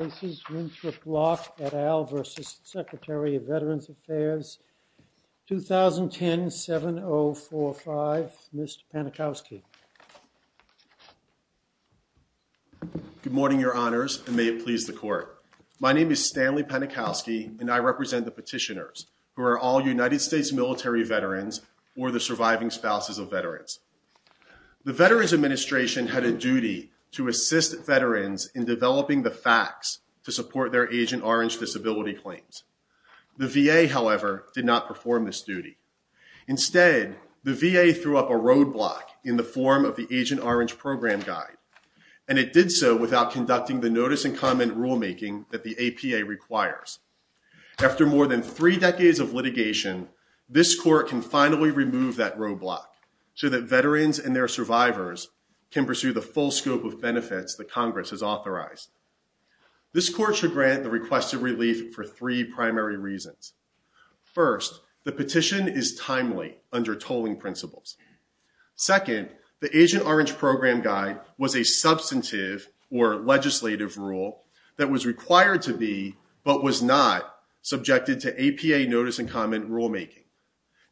2010-7045. Mr. Panikowski. Good morning your honors and may it please the court. My name is Stanley Panikowski and I represent the petitioners who are all United States military veterans or the surviving spouses of veterans. The Veterans Administration had a duty to assist veterans in developing the facts to support their Agent Orange disability claims. The VA, however, did not perform this duty. Instead, the VA threw up a roadblock in the form of the Agent Orange Program Guide and it did so without conducting the notice and comment rulemaking that the APA requires. After more than three decades of litigation, this court can finally remove that roadblock so that veterans and their survivors can pursue the full scope of benefits that Congress has This court should grant the requested relief for three primary reasons. First, the petition is timely under tolling principles. Second, the Agent Orange Program Guide was a substantive or legislative rule that was required to be but was not subjected to APA notice and comment rulemaking.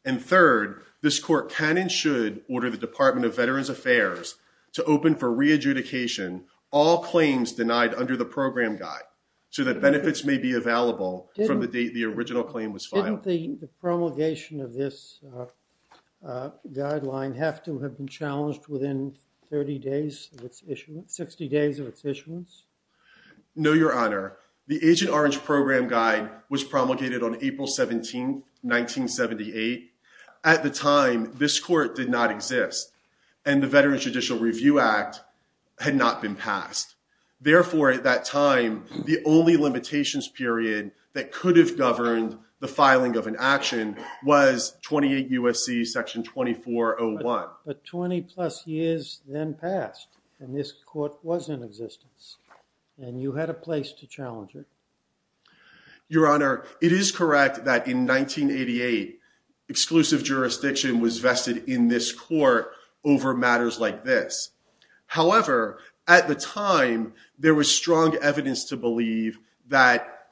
And third, this court can and should order the Department of Veterans Affairs to open for re-adjudication all claims denied under the Program Guide so that benefits may be available from the date the original claim was filed. Didn't the promulgation of this guideline have to have been challenged within 30 days of its issuance, 60 days of its issuance? No, Your Honor. The Agent Orange Program Guide was promulgated on April 17, 1978. At the time, this court did not exist, and the Veterans Judicial Review Act had not been passed. Therefore, at that time, the only limitations period that could have governed the filing of an action was 28 U.S.C. Section 2401. But 20-plus years then passed, and this court was in existence, and you had a place to challenge it. Your Honor, it is correct that in 1988, exclusive jurisdiction was vested in this court over matters like this. However, at the time, there was strong evidence to believe that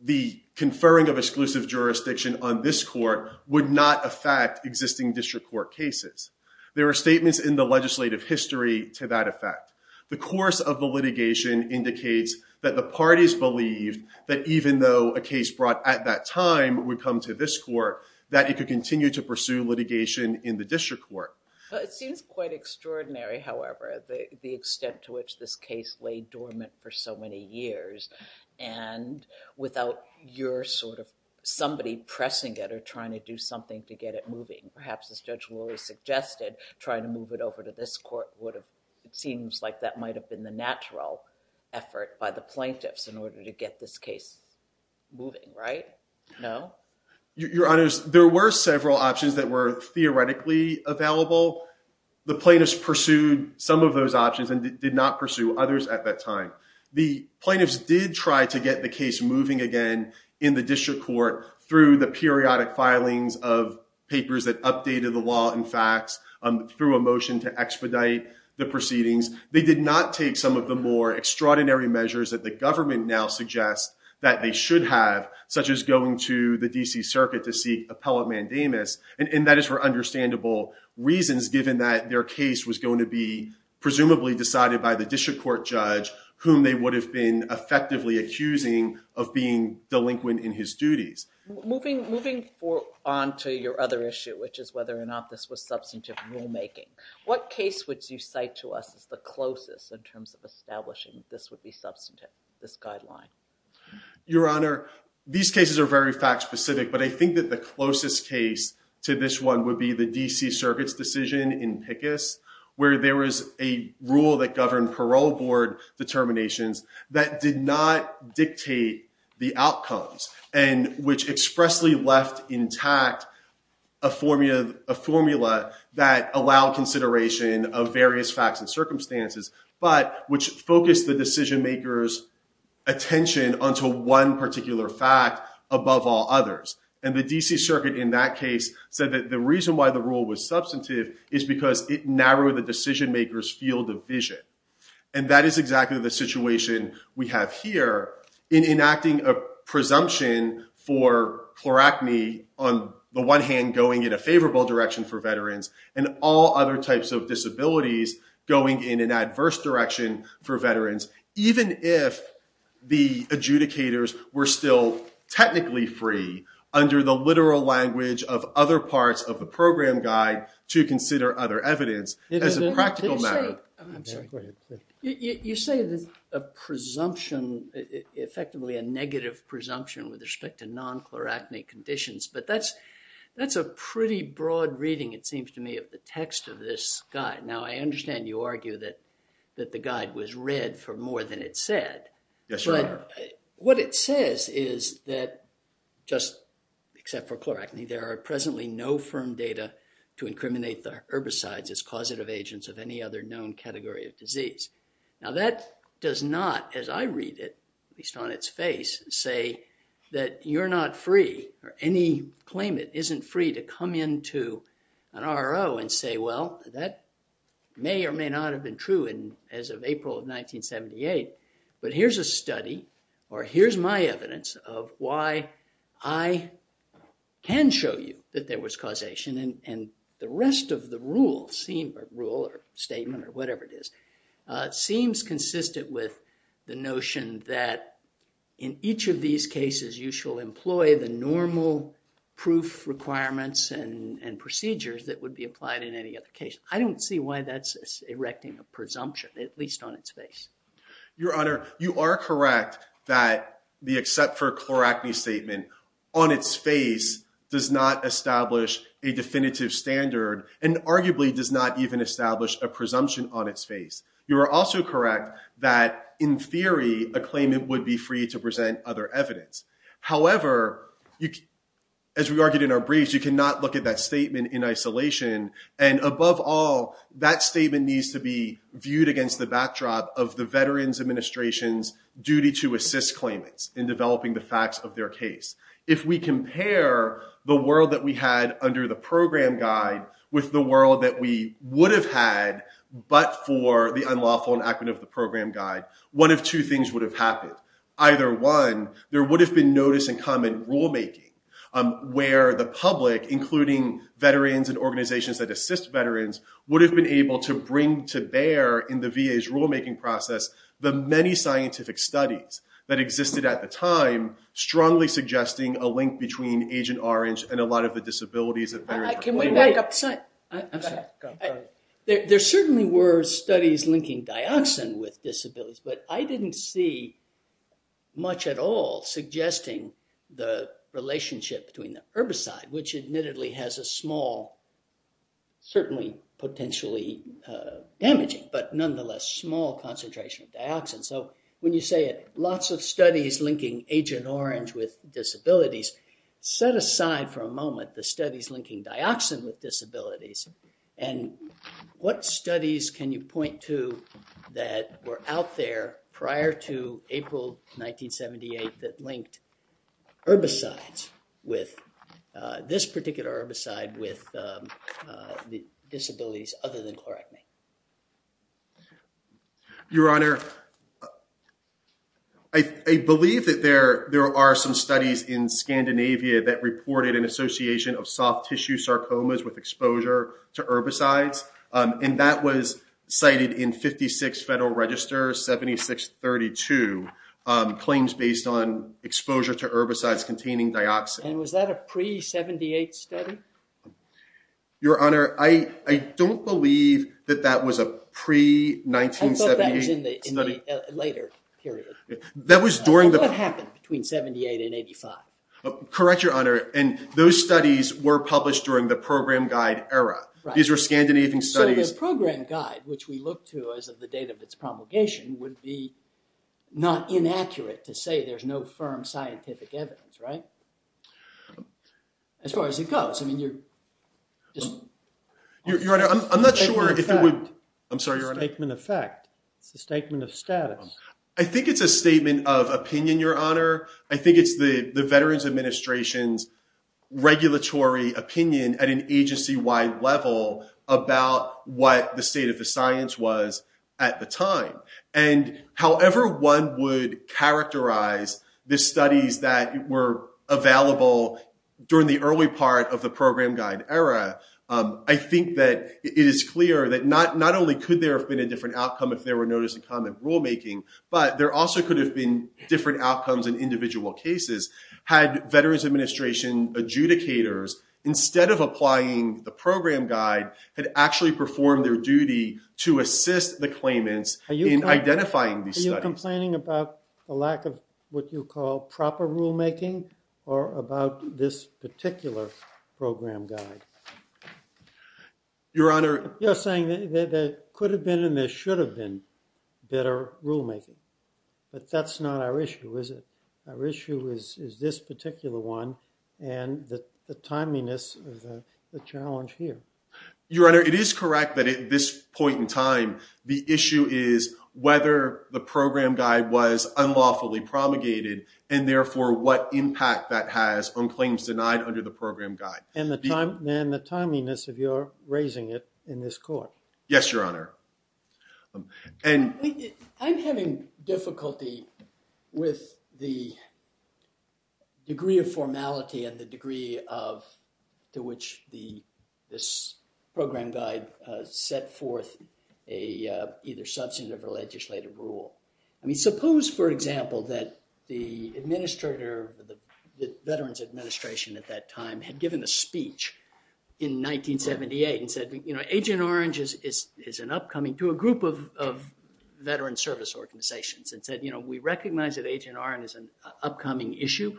the conferring of exclusive jurisdiction on this court would not affect existing district court cases. There are statements in the legislative history to that effect. The course of the litigation indicates that the parties believed that even though a case brought at that time would come to this court, that it could continue to pursue litigation in the district court. It seems quite extraordinary, however, the extent to which this case lay dormant for so many years, and without your sort of somebody pressing it or trying to do something to get it moving. Perhaps, as Judge Lurie suggested, trying to move it over to this court would have, it seems like that might have been the natural effort by the plaintiffs in this case moving, right? No? Your Honor, there were several options that were theoretically available. The plaintiffs pursued some of those options and did not pursue others at that time. The plaintiffs did try to get the case moving again in the district court through the periodic filings of papers that updated the law and facts through a motion to expedite the proceedings. They did not take some of the more extraordinary measures that the government now suggests that they should have, such as going to the D.C. Circuit to seek appellate mandamus, and that is for understandable reasons given that their case was going to be presumably decided by the district court judge whom they would have been effectively accusing of being delinquent in his duties. Moving on to your other issue, which is whether or not this was substantive rulemaking. What case would you cite to us as the closest in terms of establishing that this would be substantive, this guideline? Your Honor, these cases are very fact-specific, but I think that the closest case to this one would be the D.C. Circuit's decision in Pickus, where there was a rule that governed parole board determinations that did not dictate the outcomes, and which expressly left intact a formula that allowed consideration of various facts and circumstances, but which focused the decision-maker's attention onto one particular fact above all others. And the D.C. Circuit in that case said that the reason why the rule was substantive is because it narrowed the decision-maker's field of vision. And that is exactly the situation we have here in enacting a presumption for chloracne on the one hand going in a favorable direction for veterans, and all other types of disabilities going in an adverse direction for veterans, even if the adjudicators were still technically free under the literal language of other parts of the program guide to consider other evidence as a practical matter. I'm sorry. You say there's a presumption, effectively a negative presumption with respect to non-chloracne conditions, but that's a pretty broad reading, it seems to me, of the text of this guide. Now, I understand you argue that the guide was read for more than it said. Yes, Your Honor. But what it says is that just except for chloracne, there are presently firm data to incriminate the herbicides as causative agents of any other known category of disease. Now, that does not, as I read it, at least on its face, say that you're not free, or any claimant isn't free to come into an R.O. and say, well, that may or may not have been true as of April of 1978. But here's a study, or here's my evidence of why I can show you that there was causation, and the rest of the rule, or statement, or whatever it is, seems consistent with the notion that in each of these cases, you shall employ the normal proof requirements and procedures that would be applied in any other case. I don't see why that's erecting a presumption, at least on its face. Your Honor, you are correct that the except for chloracne statement on its face does not establish a definitive standard, and arguably does not even establish a presumption on its face. You are also correct that in theory, a claimant would be free to present other evidence. However, as we argued in our briefs, you cannot look at that statement in isolation. And above all, that statement needs to be viewed against the backdrop of the Veterans Administration's to assist claimants in developing the facts of their case. If we compare the world that we had under the program guide with the world that we would have had, but for the unlawful enactment of the program guide, one of two things would have happened. Either one, there would have been notice and comment rulemaking where the public, including veterans and organizations that assist veterans, would have been able to bring to bear in the VA's rulemaking process the many scientific studies that existed at the time, strongly suggesting a link between Agent Orange and a lot of the disabilities of veterans. Can we back up the slide? There certainly were studies linking dioxin with disabilities, but I didn't see much at all suggesting the relationship between the herbicide, which admittedly has a small, certainly potentially damaging, but nonetheless small concentration of dioxin. So when you say lots of studies linking Agent Orange with disabilities, set aside for a moment the studies linking dioxin with disabilities, and what studies can you point to that were out there prior to April 1978 that linked herbicides with this particular herbicide with the disabilities other than chlorhexidine? Your Honor, I believe that there are some studies in Scandinavia that reported an association of soft tissue sarcomas with exposure to herbicides, and that was cited in 56 Federal Register 7632, claims based on Your Honor, I don't believe that that was a pre-1978 study. I thought that was in the later period. That was during the... What happened between 78 and 85? Correct, Your Honor, and those studies were published during the program guide era. These were Scandinavian studies. So the program guide, which we look to as of the date of its promulgation, would be not inaccurate to say there's no firm scientific evidence, right? As far as it goes, I mean, you're just... Your Honor, I'm not sure if it would... Statement of fact. I'm sorry, Your Honor. Statement of fact. It's a statement of status. I think it's a statement of opinion, Your Honor. I think it's the Veterans Administration's regulatory opinion at an agency-wide level about what the state of the science was at the time. And however one would characterize the studies that were available during the early part of the program guide era, I think that it is clear that not only could there have been a different outcome if there were notice of common rulemaking, but there also could have been different outcomes in individual cases had Veterans Administration adjudicators, instead of applying the program guide, had actually performed their duty to assist the claimants in identifying these studies. Are you complaining about a lack of what you call proper rulemaking or about this particular program guide? Your Honor... You're saying that there could have been and there should have been better rulemaking, but that's not our issue, is it? Our issue is this particular one and the it is correct that at this point in time, the issue is whether the program guide was unlawfully promulgated and therefore what impact that has on claims denied under the program guide. And the timeliness of your raising it in this court. Yes, Your Honor. I'm having difficulty with the degree of formality and the degree of to which this program guide set forth a either substantive or legislative rule. I mean, suppose, for example, that the administrator of the Veterans Administration at that time had given a speech in 1978 and said, you know, Agent Orange is an upcoming to a group of Veterans Service organizations and said, you know, we recognize that Agent Orange is an upcoming issue.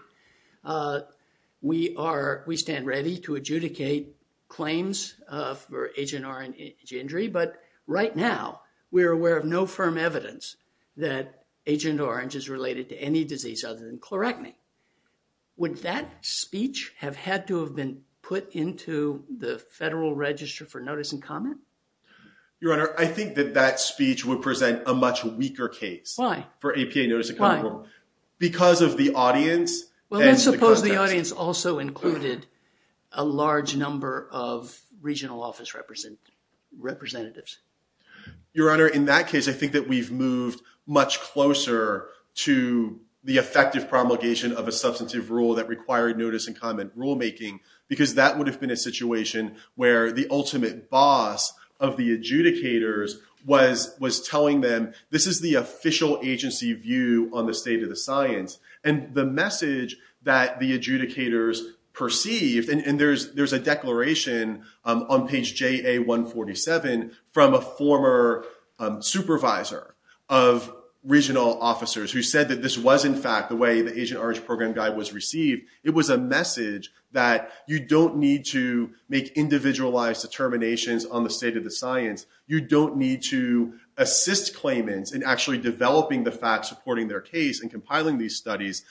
We are, we stand ready to adjudicate claims for Agent Orange injury, but right now we're aware of no firm evidence that Agent Orange is related to any disease other than chloracne. Would that speech have had to have been put into the federal register for notice and comment? Your Honor, I think that that speech would present a much weaker case. Why? For APA notice. Because of the audience. Well, let's suppose the audience also included a large number of regional office representatives. Your Honor, in that case, I think that we've moved much closer to the effective promulgation of a substantive rule that required notice and comment rulemaking, because that would have been a situation where the ultimate boss of the adjudicators was, was telling them, this is the official agency view on the state of the science and the message that the adjudicators perceived. And, and there's, there's a declaration on page JA 147 from a former supervisor of regional officers who said that this was in fact, the way the Agent Orange program guide was received. It was a message that you don't need to make individualized determinations on the state of the science. You don't need to assist claimants in actually developing the facts, supporting their case and compiling these studies.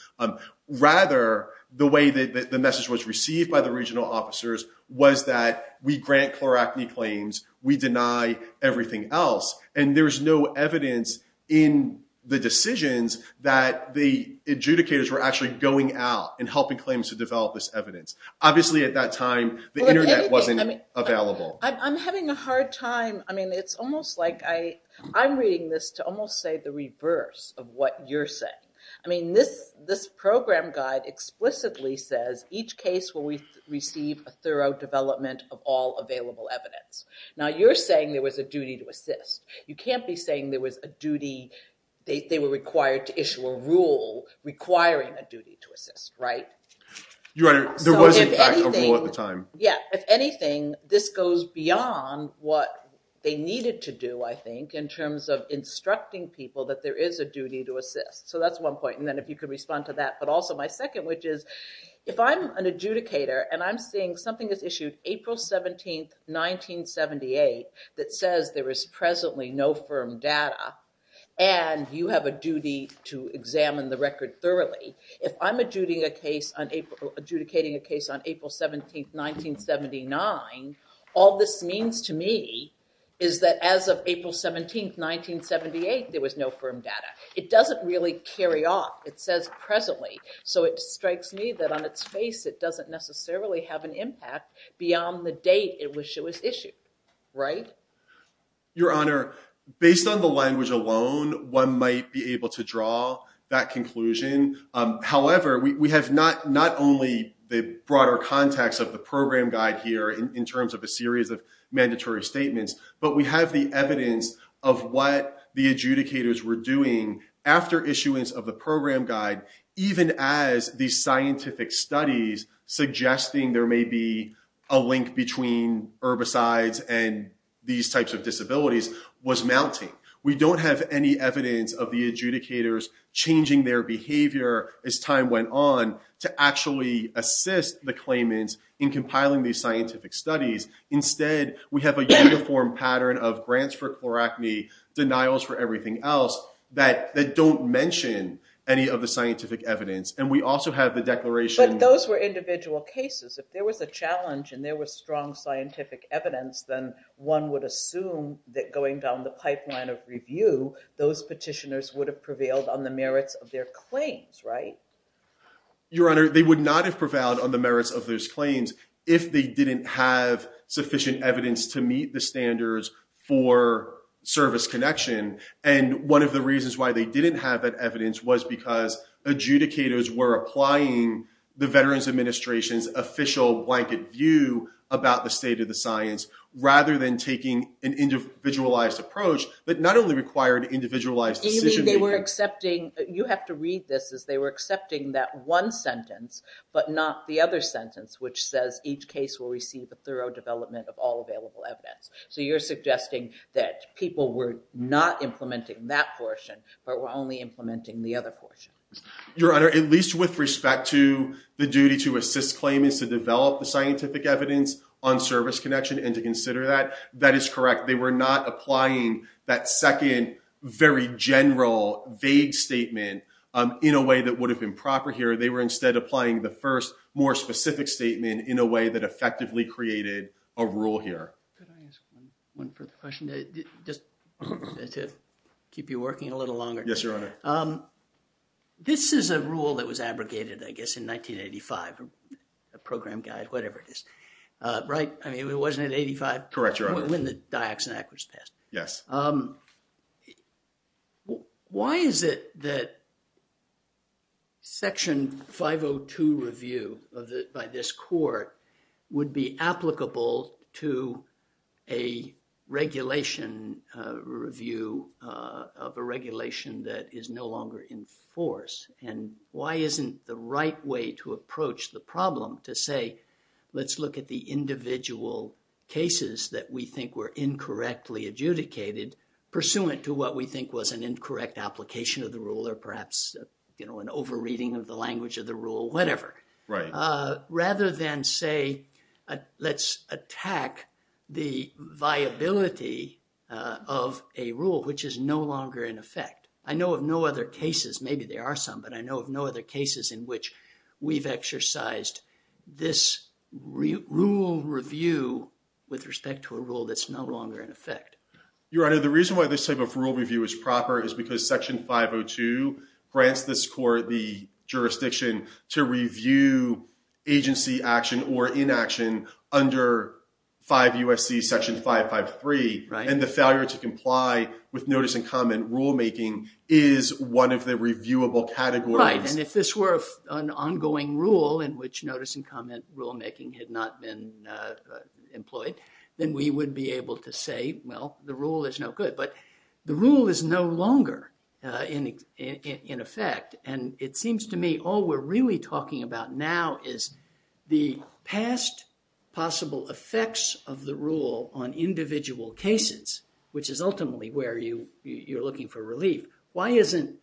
Rather the way that the message was received by the regional officers was that we grant chloracne claims. We deny everything else. And there was no evidence in the decisions that the adjudicators were actually going out and helping claimants to develop this evidence. Obviously at that time, the internet wasn't available. I'm having a hard time. I mean, it's almost like I, I'm reading this to almost say the reverse of what you're saying. I mean, this, this program guide explicitly says each case will receive a thorough development of all available evidence. Now you're saying there was a duty to assist. You can't be saying there was a requiring a duty to assist, right? Yeah. If anything, this goes beyond what they needed to do, I think, in terms of instructing people that there is a duty to assist. So that's one point. And then if you could respond to that, but also my second, which is if I'm an adjudicator and I'm seeing something that's issued April 17th, 1978, that says there is presently no firm data and you have a duty to examine the record thoroughly. If I'm adjudicating a case on April 17th, 1979, all this means to me is that as of April 17th, 1978, there was no firm data. It doesn't really carry off. It says presently. So it strikes me that on its face, it doesn't necessarily have an impact beyond the date it was issued, right? Your Honor, based on the language alone, one might be able to draw that conclusion. However, we have not only the broader context of the program guide here in terms of a series of mandatory statements, but we have the evidence of what the adjudicators were doing after issuance of the program guide, even as these scientific studies suggesting there may be a link between herbicides and these types of We don't have any evidence of the adjudicators changing their behavior as time went on to actually assist the claimants in compiling these scientific studies. Instead, we have a uniform pattern of grants for chloracne, denials for everything else that don't mention any of the scientific evidence. And we also have the declaration... But those were individual cases. If there was a challenge and there was strong scientific evidence, then one would assume that going down the pipeline of review, those petitioners would have prevailed on the merits of their claims, right? Your Honor, they would not have prevailed on the merits of those claims if they didn't have sufficient evidence to meet the standards for service connection. And one of the reasons why they didn't have that evidence was because adjudicators were applying the Veterans Administration's blanket view about the state of the science, rather than taking an individualized approach that not only required individualized decision-making... Do you mean they were accepting... You have to read this as they were accepting that one sentence, but not the other sentence, which says each case will receive a thorough development of all available evidence. So you're suggesting that people were not implementing that portion, but were only implementing the other portion. Your Honor, at least with respect to the duty to assist claimants to develop the scientific evidence on service connection and to consider that, that is correct. They were not applying that second, very general, vague statement in a way that would have been proper here. They were instead applying the first, more specific statement in a way that effectively created a rule here. Could I ask one further question to This is a rule that was abrogated, I guess, in 1985, a program guide, whatever it is. Right? I mean, it wasn't in 85? Correct, Your Honor. When the Dioxin Act was passed. Yes. Why is it that Section 502 review by this court would be applicable to a regulation review of a regulation that is no longer in force? And why isn't the right way to approach the problem to say, let's look at the individual cases that we think were incorrectly adjudicated, pursuant to what we think was an incorrect application of the rule, or perhaps, you know, an over-reading of the language of the rule, whatever. Right. Rather than say, let's attack the viability of a rule, which is no longer in effect. I know of no other cases, maybe there are some, but I know of no other cases in which we've exercised this rule review with respect to a rule that's no longer in effect. Your Honor, the reason why this type of rule review is proper is because Section 502 grants this court the jurisdiction to review agency action or inaction under 5 U.S.C. Section 553. And the failure to comply with notice and comment rulemaking is one of the reviewable categories. Right. And if this were an ongoing rule in which notice and comment rulemaking had not been employed, then we would be able to say, well, the rule is no good, but the rule is no longer in effect. And it seems to me all we're really talking about now is the past possible effects of the rule on individual cases, which is ultimately where you're looking for relief. Why isn't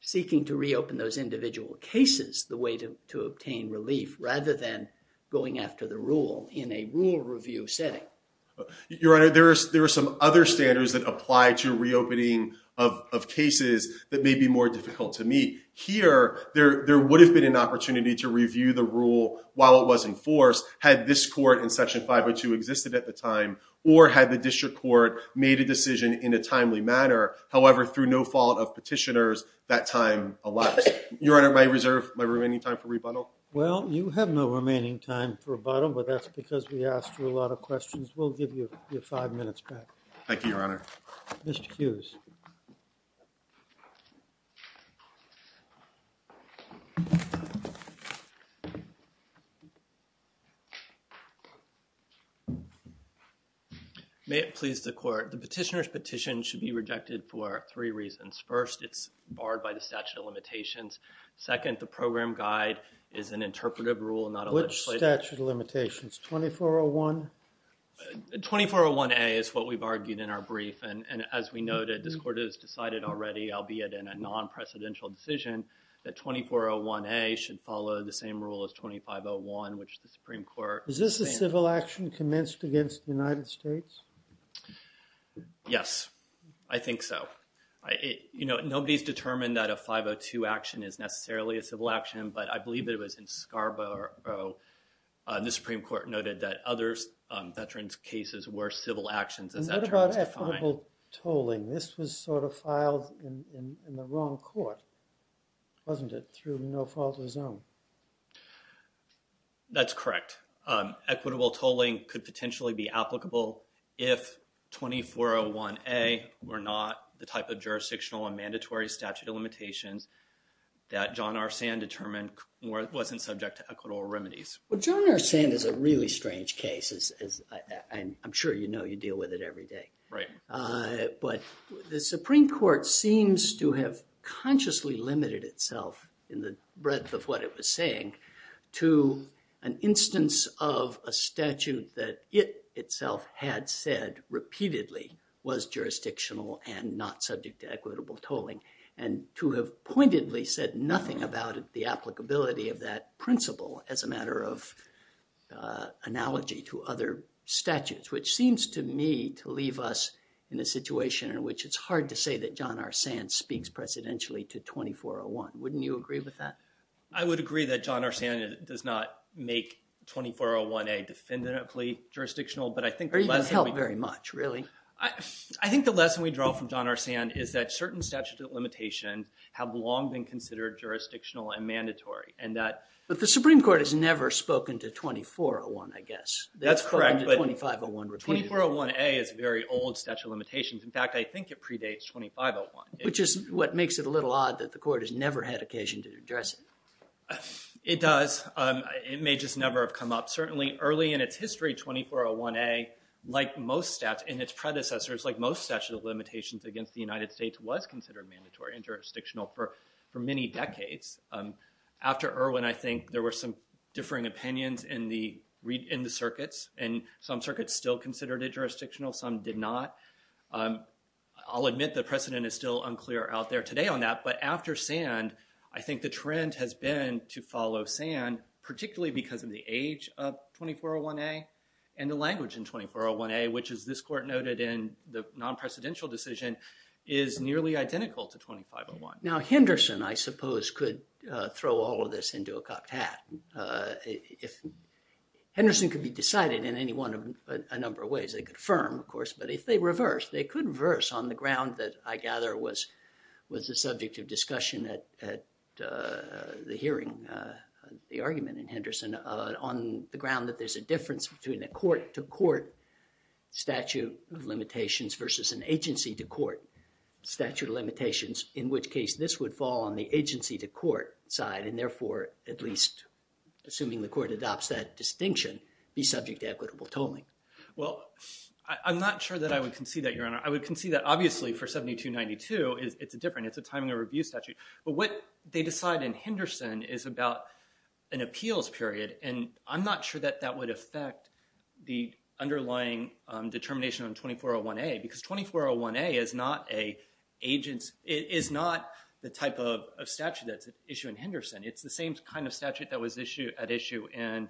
seeking to reopen those individual cases the way to obtain relief rather than going after the rule in a rule review setting? Your Honor, there are some other standards that of cases that may be more difficult to meet. Here, there would have been an opportunity to review the rule while it was in force, had this court in Section 502 existed at the time, or had the district court made a decision in a timely manner. However, through no fault of petitioners, that time elapsed. Your Honor, may I reserve my remaining time for rebuttal? Well, you have no remaining time for rebuttal, but that's because we asked you a lot of questions. We'll give you your five minutes back. Thank you, Your Honor. Mr. Hughes. May it please the court. The petitioner's petition should be rejected for three reasons. First, it's barred by the statute of limitations. Second, the program guide is an interpretive rule and not a legislative. Which statute of limitations? 2401? 2401A is what we've argued in our brief, and as we noted, this court has decided already, albeit in a non-precedential decision, that 2401A should follow the same rule as 2501, which the Supreme Court... Is this a civil action commenced against the United States? Yes, I think so. You know, nobody's determined that a 502 action is necessarily a civil action, but I believe it was in Scarborough. The Supreme Court noted that other veterans' cases were civil actions as that term was defined. And what about equitable tolling? This was sort of filed in the wrong court, wasn't it, through no fault of his own? That's correct. Equitable tolling could potentially be applicable if 2401A were not the type of jurisdictional and mandatory statute of limitations that John R. Sand determined wasn't subject to equitable remedies. Well, John R. Sand is a really strange case, and I'm sure you know you deal with it every day. But the Supreme Court seems to have consciously limited itself in the breadth of what it was saying to an instance of a statute that it had said repeatedly was jurisdictional and not subject to equitable tolling, and to have pointedly said nothing about the applicability of that principle as a matter of analogy to other statutes, which seems to me to leave us in a situation in which it's hard to say that John R. Sand speaks presidentially to 2401. Wouldn't you agree with that? I would agree that John R. Sand does not make 2401A definitively jurisdictional, but I think— Or even help very much, really. I think the lesson we draw from John R. Sand is that certain statutes of limitations have long been considered jurisdictional and mandatory, and that— But the Supreme Court has never spoken to 2401, I guess. That's correct, but 2401A is a very old statute of limitations. In fact, I think it predates 2501. Which is what makes it a little interesting. It does. It may just never have come up. Certainly early in its history, 2401A, like most statutes and its predecessors, like most statute of limitations against the United States, was considered mandatory and jurisdictional for many decades. After Irwin, I think there were some differing opinions in the circuits, and some circuits still considered it jurisdictional. Some did not. I'll admit the precedent is still unclear out there today on that, but after Sand, I think the trend has been to follow Sand, particularly because of the age of 2401A and the language in 2401A, which, as this court noted in the non-presidential decision, is nearly identical to 2501. Now, Henderson, I suppose, could throw all of this into a cocked hat. Henderson could be decided in any one of a number of ways. They could affirm, of course, but if they reverse, they could reverse on the ground that, I gather, was the subject of discussion at the hearing, the argument in Henderson, on the ground that there's a difference between a court-to-court statute of limitations versus an agency-to-court statute of limitations, in which case this would fall on the agency-to-court side, and therefore, at least, assuming the court adopts that distinction, be subject to equitable tolling. Well, I'm not sure that I would concede that, Your Honor. I would concede that, obviously, for 7292, it's different. It's a timing of review statute, but what they decide in Henderson is about an appeals period, and I'm not sure that that would affect the underlying determination on 2401A, because 2401A is not the type of statute that's at issue in Henderson. It's the same kind of statute that was at issue in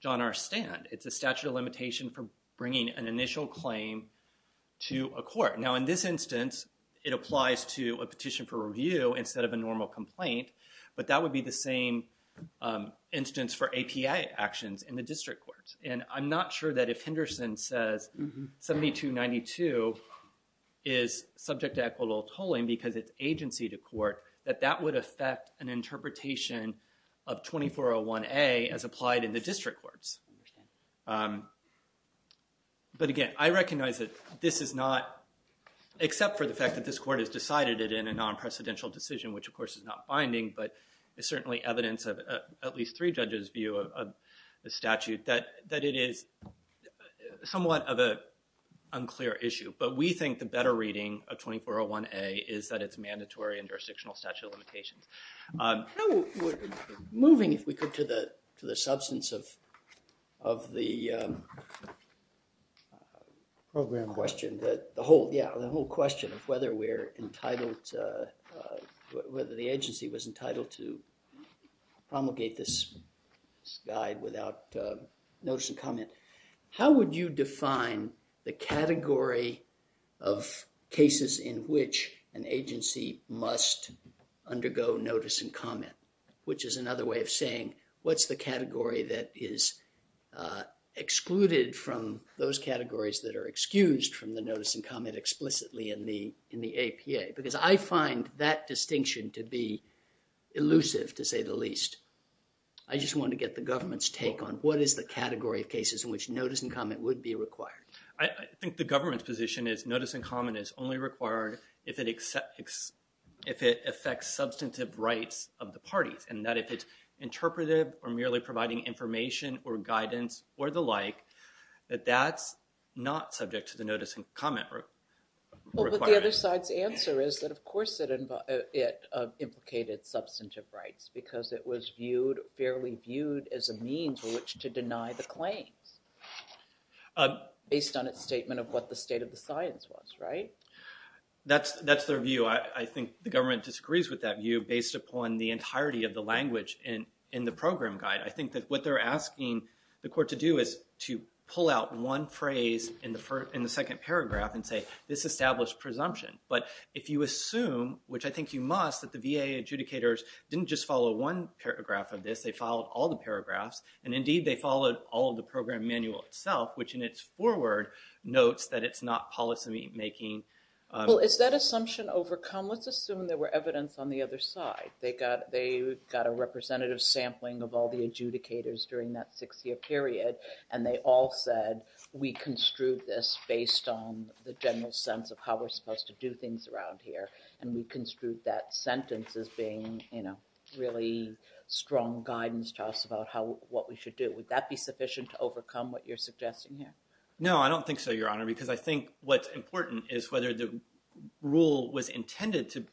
John R. Stand. It's a statute of limitation for bringing an initial claim to a court. Now, in this instance, it applies to a petition for review instead of a normal complaint, but that would be the same instance for APA actions in the district courts, and I'm not sure that if Henderson says 7292 is subject to equitable tolling because it's to court, that that would affect an interpretation of 2401A as applied in the district courts, but again, I recognize that this is not, except for the fact that this court has decided it in a non-precedential decision, which, of course, is not binding, but it's certainly evidence of at least three judges' view of the statute, that it is somewhat of an unclear issue, but we think the better reading of 2401A is that it's mandatory in jurisdictional statute limitations. Moving, if we could, to the substance of the program question, that the whole, yeah, the whole question of whether we're entitled, whether the agency was entitled to promulgate this guide without notice and comment, how would you define the category of cases in which an agency must undergo notice and comment, which is another way of saying what's the category that is excluded from those categories that are excused from the notice and comment explicitly in the statute? I just want to get the government's take on what is the category of cases in which notice and comment would be required. I think the government's position is notice and comment is only required if it affects substantive rights of the parties, and that if it's interpretive or merely providing information or guidance or the like, that that's not subject to the notice and comment requirement. Well, but the other side's answer is that, of course, it implicated substantive rights because it was viewed, fairly viewed, as a means by which to deny the claims based on its statement of what the state of the science was, right? That's their view. I think the government disagrees with that view based upon the entirety of the language in the program guide. I think that what they're asking the court to do is to pull out one phrase in the second paragraph and say, this established presumption. But if you didn't just follow one paragraph of this, they followed all the paragraphs, and indeed they followed all of the program manual itself, which in its foreword notes that it's not policy making. Well, is that assumption overcome? Let's assume there were evidence on the other side. They got a representative sampling of all the adjudicators during that six-year period, and they all said, we construed this based on the general sense of how we're supposed to do things around here, and we construed that sentence as being really strong guidance to us about what we should do. Would that be sufficient to overcome what you're suggesting here? No, I don't think so, Your Honor, because I think what's important is whether the rule was intended to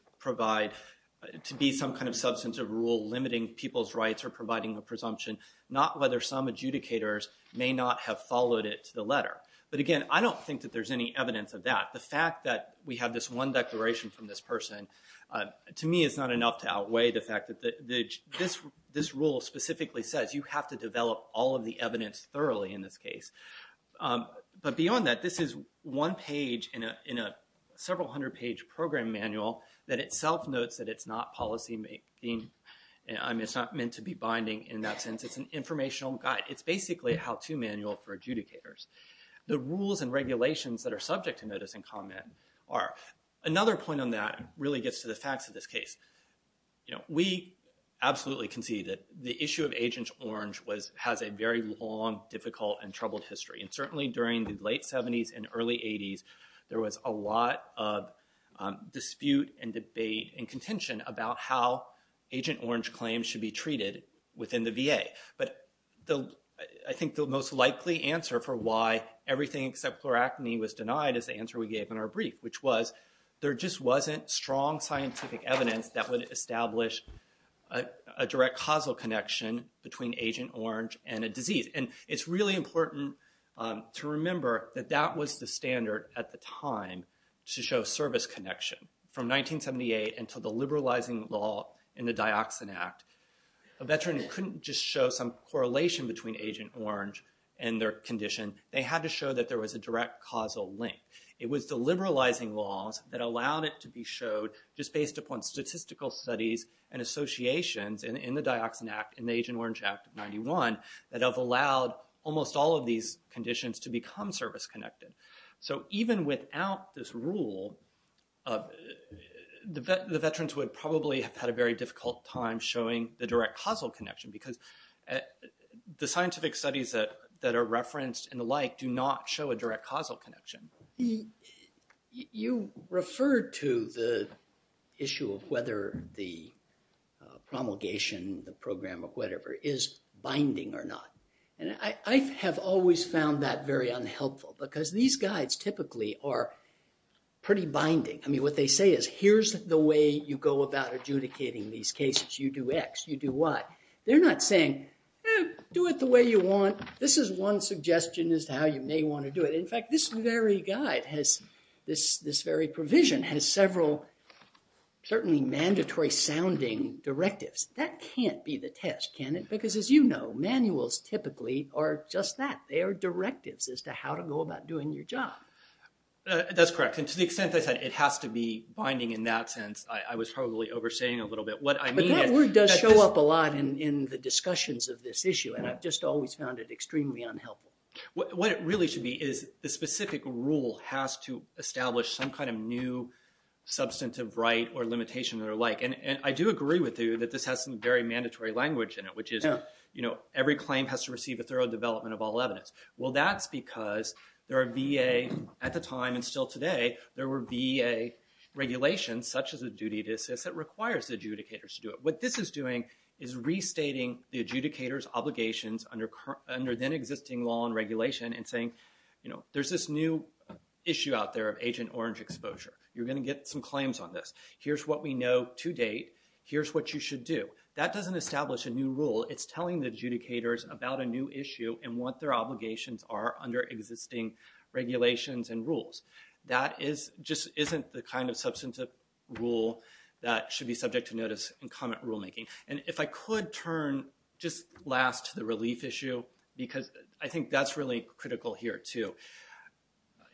be some kind of substantive rule limiting people's rights or providing a presumption, not whether some adjudicators may not have followed it to the letter. But again, I don't think that there's any evidence of that. The fact that we have this one declaration from this person, to me, is not enough to outweigh the fact that this rule specifically says you have to develop all of the evidence thoroughly in this case. But beyond that, this is one page in a several hundred page program manual that itself notes that it's not policy making. I mean, it's not meant to be binding in that sense. It's an informational guide. It's basically a how-to manual for adjudicators. The rules and regulations that are subject to notice and comment are. Another point on that really gets to the facts of this case. We absolutely concede that the issue of Agent Orange has a very long, difficult, and troubled history. And certainly during the late 70s and early 80s, there was a lot of dispute and debate and contention about how Agent Orange claims should be treated within the VA. But I think the most likely answer for why everything except pleurotomy was denied is the answer we gave in our brief, which was there just wasn't strong scientific evidence that would establish a direct causal connection between Agent Orange and a disease. And it's really important to remember that that was the standard at the time to show service connection. From 1978 until the liberalizing law in the Dioxin Act, a veteran couldn't just show some correlation between Agent Orange and their condition. They had to show that there was a direct causal link. It was the liberalizing laws that allowed it to be showed just based upon statistical studies and associations in the Dioxin Act, in the Agent Orange Act of 91, that have allowed almost all of these conditions to become service-connected. So even without this rule, the veterans would probably have had a very difficult time showing the direct causal connection because the scientific studies that are referenced and the like do not show a direct causal connection. You referred to the issue of whether the promulgation, the program, or whatever is binding or not. And I have always found that very unhelpful because these guides typically are pretty binding. I mean, what they say is, here's the way you go about adjudicating these cases. You do X, you do Y. They're not saying, do it the way you want. This is one suggestion as to how you may want to do it. In fact, this very guide has, this very provision has several certainly mandatory-sounding directives. That can't be the test, can it? Because as you know, manuals typically are just that. They are directives as to how to go about doing your job. That's correct. And to the extent I said it has to be binding in that sense, I was probably overstating a little bit what I mean. But that word does show up a lot in the discussions of this issue. And I've just always found it extremely unhelpful. What it really should be is the specific rule has to establish some kind of new substantive right or limitation or the like. And I do agree with you that this has some very mandatory language in it, which is every claim has to receive a thorough development of all evidence. Well, that's because there are VA, at the time and still today, there were VA regulations such as a duty to assist that requires the adjudicators to do it. What this is doing is restating the adjudicator's obligations under then existing law and regulation and saying, you know, there's this new issue out there of Agent Orange exposure. You're going to get some claims on this. Here's what we know to date. Here's what you should do. That doesn't establish a new rule. It's telling the adjudicators about a new issue and what their regulations and rules. That just isn't the kind of substantive rule that should be subject to notice in comment rulemaking. And if I could turn just last to the relief issue, because I think that's really critical here, too.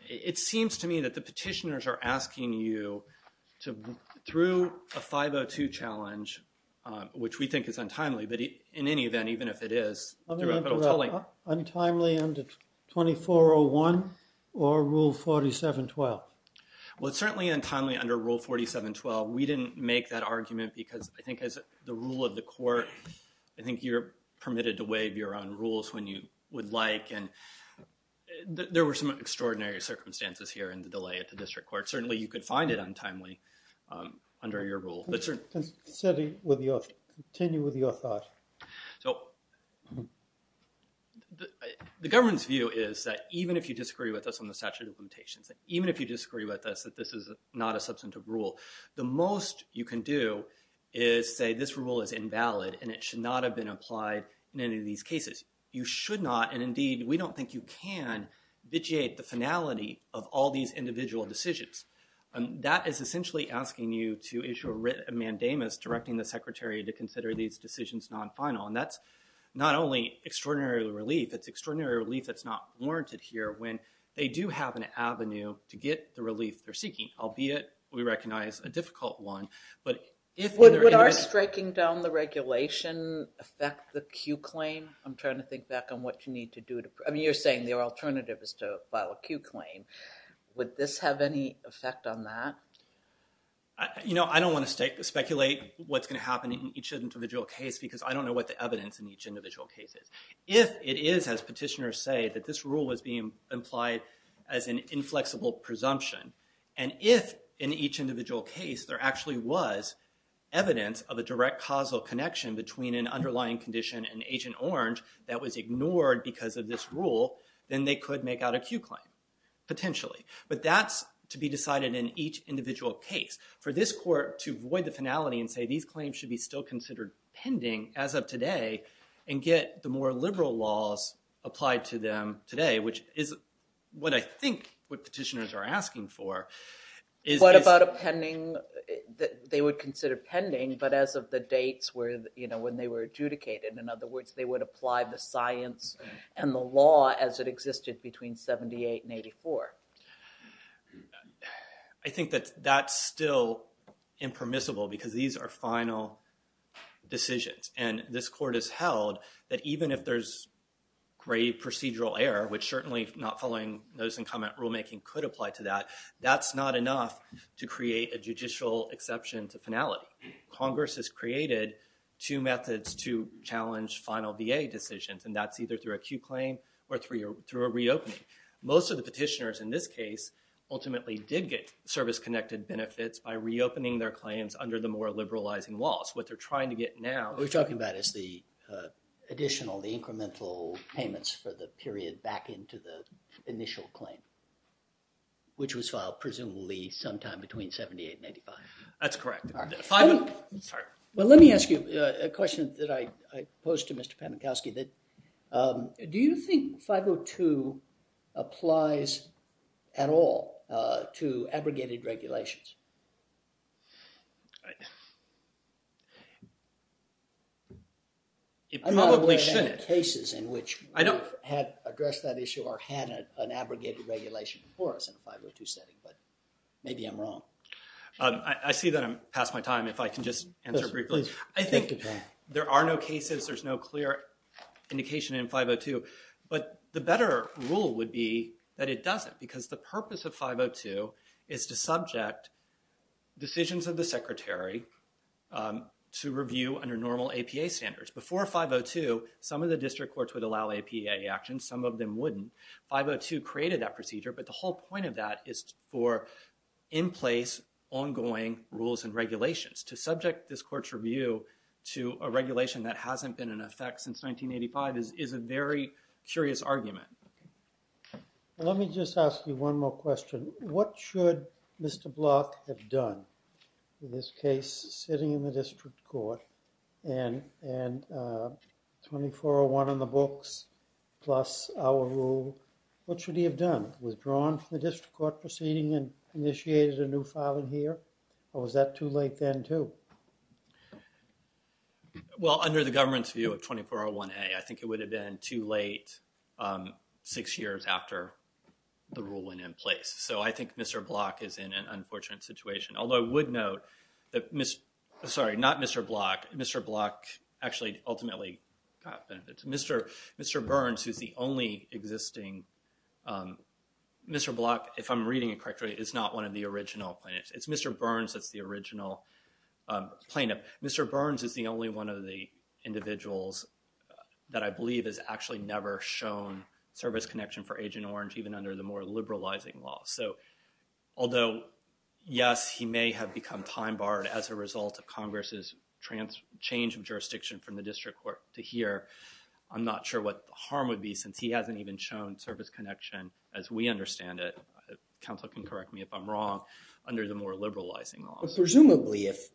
It seems to me that the petitioners are asking you to, through a 502 challenge, which we think is untimely, but in any event, even if it is... Untimely under 2401 or Rule 4712? Well, it's certainly untimely under Rule 4712. We didn't make that argument because I think as the rule of the court, I think you're permitted to waive your own rules when you would like. And there were some extraordinary circumstances here in the delay at the district court. Certainly, you could find it untimely under your rule. Certainly, continue with your thought. So the government's view is that even if you disagree with us on the statute of limitations, even if you disagree with us that this is not a substantive rule, the most you can do is say, this rule is invalid and it should not have been applied in any of these cases. You should not, and indeed, we don't think you can, vitiate the finality of all these individual decisions. That is essentially asking you to issue a mandamus directing the secretary to consider these decisions non-final. And that's not only extraordinary relief, it's extraordinary relief that's not warranted here when they do have an avenue to get the relief they're seeking, albeit we recognize a difficult one. But if... Would our striking down the regulation affect the Q claim? I'm trying to think back on what you need to do to... I mean, you're saying the alternative is to file a Q claim. Would this have any effect on that? I don't want to speculate what's going to happen in each individual case because I don't know what the evidence in each individual case is. If it is, as petitioners say, that this rule was being implied as an inflexible presumption, and if in each individual case there actually was evidence of a direct causal connection between an underlying condition and Agent Orange that was ignored because of this rule, then they could make out a Q claim, potentially. But that's to be decided in each individual case. For this court to void the finality and say these claims should be still considered pending as of today, and get the more liberal laws applied to them today, which is what I think what petitioners are asking for, is... What about a pending... They would consider pending, but as of the dates when they were adjudicated. In other words, they would apply the science and the law as it existed between 78 and 84. I think that that's still impermissible because these are final decisions, and this court has held that even if there's grave procedural error, which certainly not following notice and comment rulemaking could apply to that, that's not enough to create a judicial exception to finality. Congress has created two methods to and that's either through a Q claim or through a reopening. Most of the petitioners in this case ultimately did get service-connected benefits by reopening their claims under the more liberalizing laws. What they're trying to get now... What we're talking about is the additional, the incremental payments for the period back into the initial claim, which was filed presumably sometime between 78 and 85. That's correct. Well, let me ask you a question that I posed to Mr. Pamukowski, do you think 502 applies at all to abrogated regulations? It probably shouldn't. I'm not aware of any cases in which we have addressed that issue or had an abrogated regulation before us in a 502 setting, but maybe I'm wrong. I see that I'm past my time if I can just answer briefly. I think there are no cases, there's no clear indication in 502, but the better rule would be that it doesn't because the purpose of 502 is to subject decisions of the secretary to review under normal APA standards. Before 502, some of the district courts would allow APA action, some of them wouldn't. 502 created that procedure, but the in-place ongoing rules and regulations to subject this court's review to a regulation that hasn't been in effect since 1985 is a very curious argument. Let me just ask you one more question. What should Mr. Block have done in this case, sitting in the district court and 2401 on the books plus our rule, what should he have done? Withdrawn from the district court proceeding and initiated a new filing here, or was that too late then too? Well, under the government's view of 2401A, I think it would have been too late six years after the rule went in place. So I think Mr. Block is in an unfortunate situation, although I would note that, sorry, not Mr. Block, Mr. Block actually ultimately got benefits. Mr. Burns, who's the only is not one of the original plaintiffs. It's Mr. Burns that's the original plaintiff. Mr. Burns is the only one of the individuals that I believe has actually never shown service connection for Agent Orange, even under the more liberalizing law. So although yes, he may have become time-barred as a result of Congress's change of jurisdiction from the district court to here, I'm not sure what the harm would be since he hasn't even shown service connection as we understand it, counsel can correct me if I'm wrong, under the more liberalizing laws. Presumably if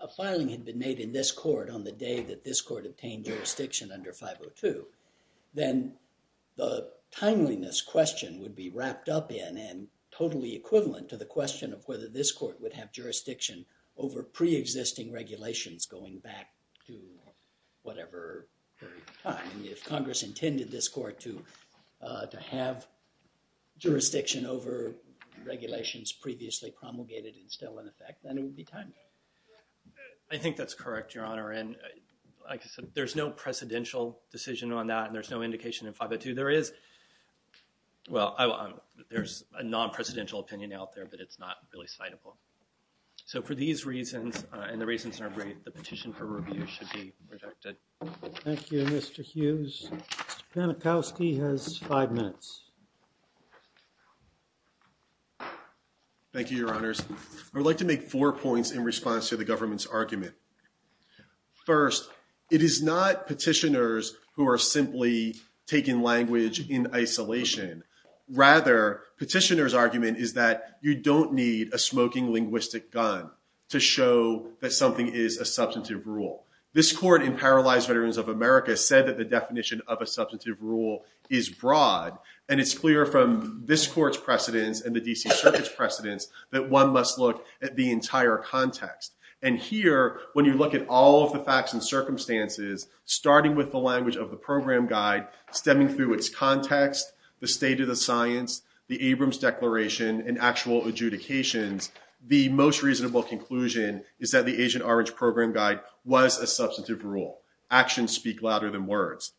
a filing had been made in this court on the day that this court obtained jurisdiction under 502, then the timeliness question would be wrapped up in and totally equivalent to the question of whether this court would have jurisdiction over pre-existing regulations going back to whatever period of time. If Congress intended this court to have jurisdiction over regulations previously promulgated and still in effect, then it would be timely. I think that's correct, your honor, and like I said, there's no precedential decision on that and there's no indication in 502. There is, well, there's a non-presidential opinion out there, but it's not really citable. So for these reasons and the reasons in our brief, the petition for review should be rejected. Thank you, Mr. Hughes. Mr. Panikowski has five minutes. Thank you, your honors. I would like to make four points in response to the government's argument. First, it is not petitioners who are simply taking language in isolation. Rather, petitioner's argument is that you don't need a smoking linguistic gun to show that something is a substantive rule. This court in Paralyzed Veterans of America said that the definition of a substantive rule is broad and it's clear from this court's precedents and the DC Circuit's precedents that one must look at the entire context. And here, when you look at all of the facts and circumstances, starting with the language of the program guide, stemming through its context, the state of the science, the Abrams Declaration, and actual adjudications, the most reasonable conclusion is that the Agent Orange Program Guide was a substantive rule. Actions speak louder than words.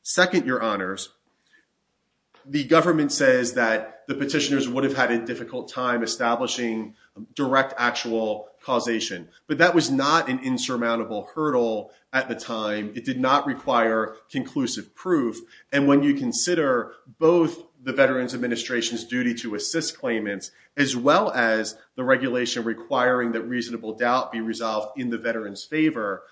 Second, your honors, the government says that the petitioners would have had a difficult time establishing direct actual causation, but that was not an insurmountable hurdle at the time. It did not require conclusive proof. And when you consider both the Veterans Administration's duty to assist claimants, as well as the regulation requiring that reasonable doubt be resolved in the veteran's favor,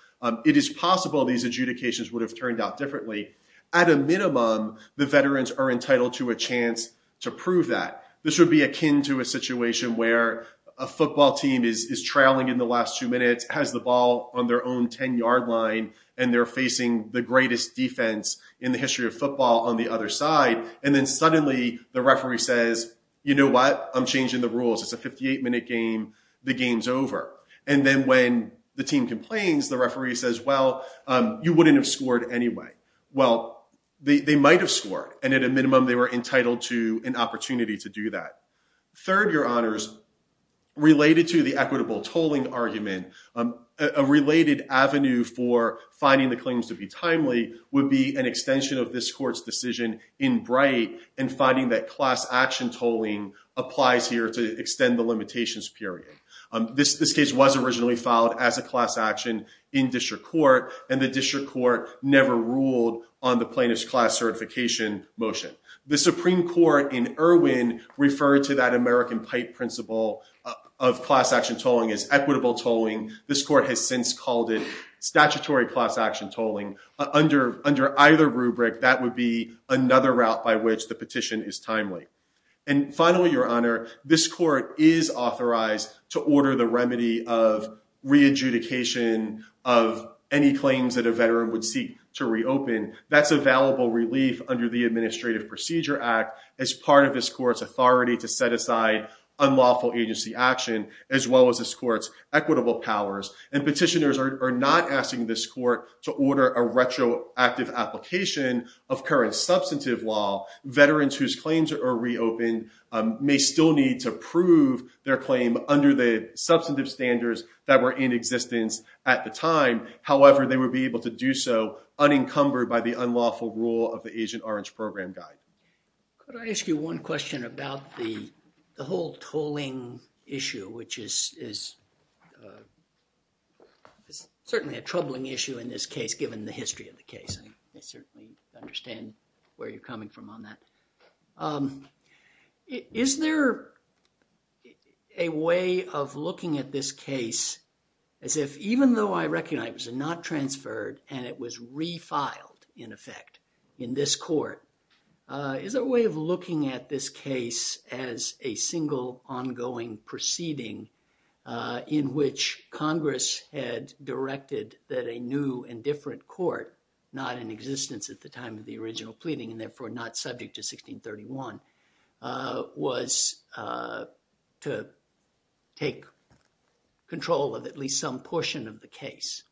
it is possible these adjudications would have turned out differently. At a minimum, the veterans are entitled to a chance to prove that. This would be akin to a situation where a football team is trailing in the last two minutes, has the ball on their own 10-yard line, and they're facing the greatest defense in the history of football on the other side. And then suddenly the referee says, you know what? I'm changing the rules. It's a 58-minute game. The game's over. And then when the team complains, the referee says, well, you wouldn't have scored anyway. Well, they might have scored. And at a minimum, they were entitled to an opportunity to do that. Third, your honors, related to the equitable tolling argument, a related avenue for finding the claims to be timely would be an extension of this court's decision in Bright and finding that class action tolling applies here to extend the limitations period. This case was originally filed as a class action in district court, and the district court never ruled on the plaintiff's class certification motion. The Supreme Court in Irwin referred to that American pipe principle of class action tolling as equitable tolling. This court has called it statutory class action tolling. Under either rubric, that would be another route by which the petition is timely. And finally, your honor, this court is authorized to order the remedy of re-adjudication of any claims that a veteran would seek to reopen. That's available relief under the Administrative Procedure Act as part of this court's authority to set aside unlawful agency action, as well as this court's equitable powers. And petitioners are not asking this court to order a retroactive application of current substantive law. Veterans whose claims are reopened may still need to prove their claim under the substantive standards that were in existence at the time. However, they would be able to do so unencumbered by the unlawful rule of the Agent Orange Program Guide. Could I ask you one question about the whole tolling issue, which is certainly a troubling issue in this case, given the history of the case. I certainly understand where you're coming from on that. Is there a way of looking at this case as if, even though I recognize it was not transferred and it was refiled in effect in this court, is there a way of looking at this case as a single ongoing proceeding in which Congress had directed that a new and different court, not in existence at the time of the original pleading and therefore not subject to 1631, was to take control of at least some portion of the case,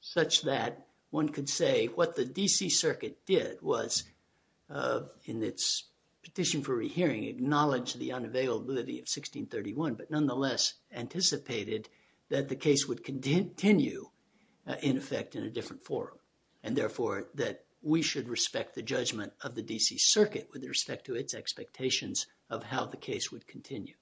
such that one could say what the D.C. Circuit did was, in its petition for rehearing, acknowledge the unavailability of 1631, but nonetheless anticipated that the case would continue in effect in a different forum, and therefore that we should respect the judgment of the D.C. Circuit with respect to its expectations of how the case would continue.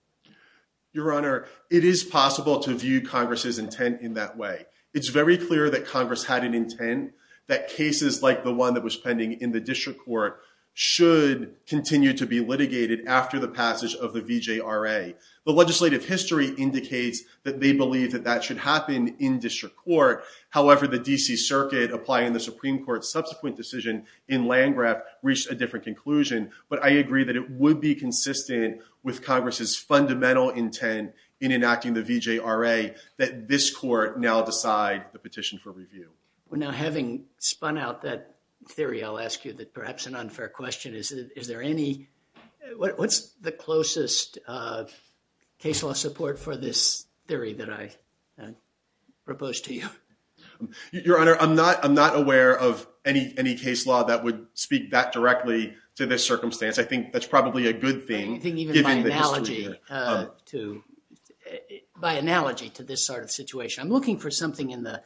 Your Honor, it is possible to view Congress's intent in that way. It's very clear that Congress had an intent that cases like the one that was pending in the district court should continue to be litigated after the passage of the VJRA. The legislative history indicates that they believe that that should happen in district court. However, the D.C. Circuit, applying the Supreme Court's subsequent decision in Landgraf, reached a different conclusion, but I agree that it would be consistent with Congress's fundamental intent in enacting the VJRA that this court now decide the petition for review. Now, having spun out that theory, I'll ask you perhaps an unfair question. Is there any, what's the closest case law support for this theory that I propose to you? Your Honor, I'm not aware of any case law that would speak that directly to this circumstance. I think that's probably a good thing. I think even by analogy to this sort of situation, I'm looking for something in the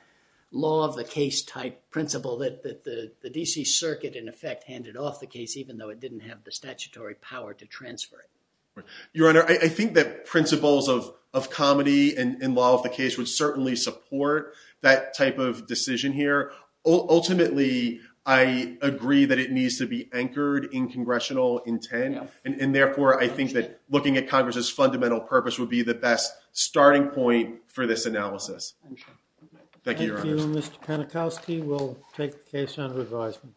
law of the case type principle that the D.C. Circuit in effect handed off the case even though it didn't have the statutory power to transfer it. Your Honor, I think that principles of comedy in law of the case would certainly support that type of decision here. Ultimately, I agree that it needs to be anchored in congressional intent, and therefore, I think that looking at Congress's fundamental purpose would be the best starting point for this analysis. Thank you, Your Honor. Thank you, Mr. Panikowski. We'll take the case under advisement.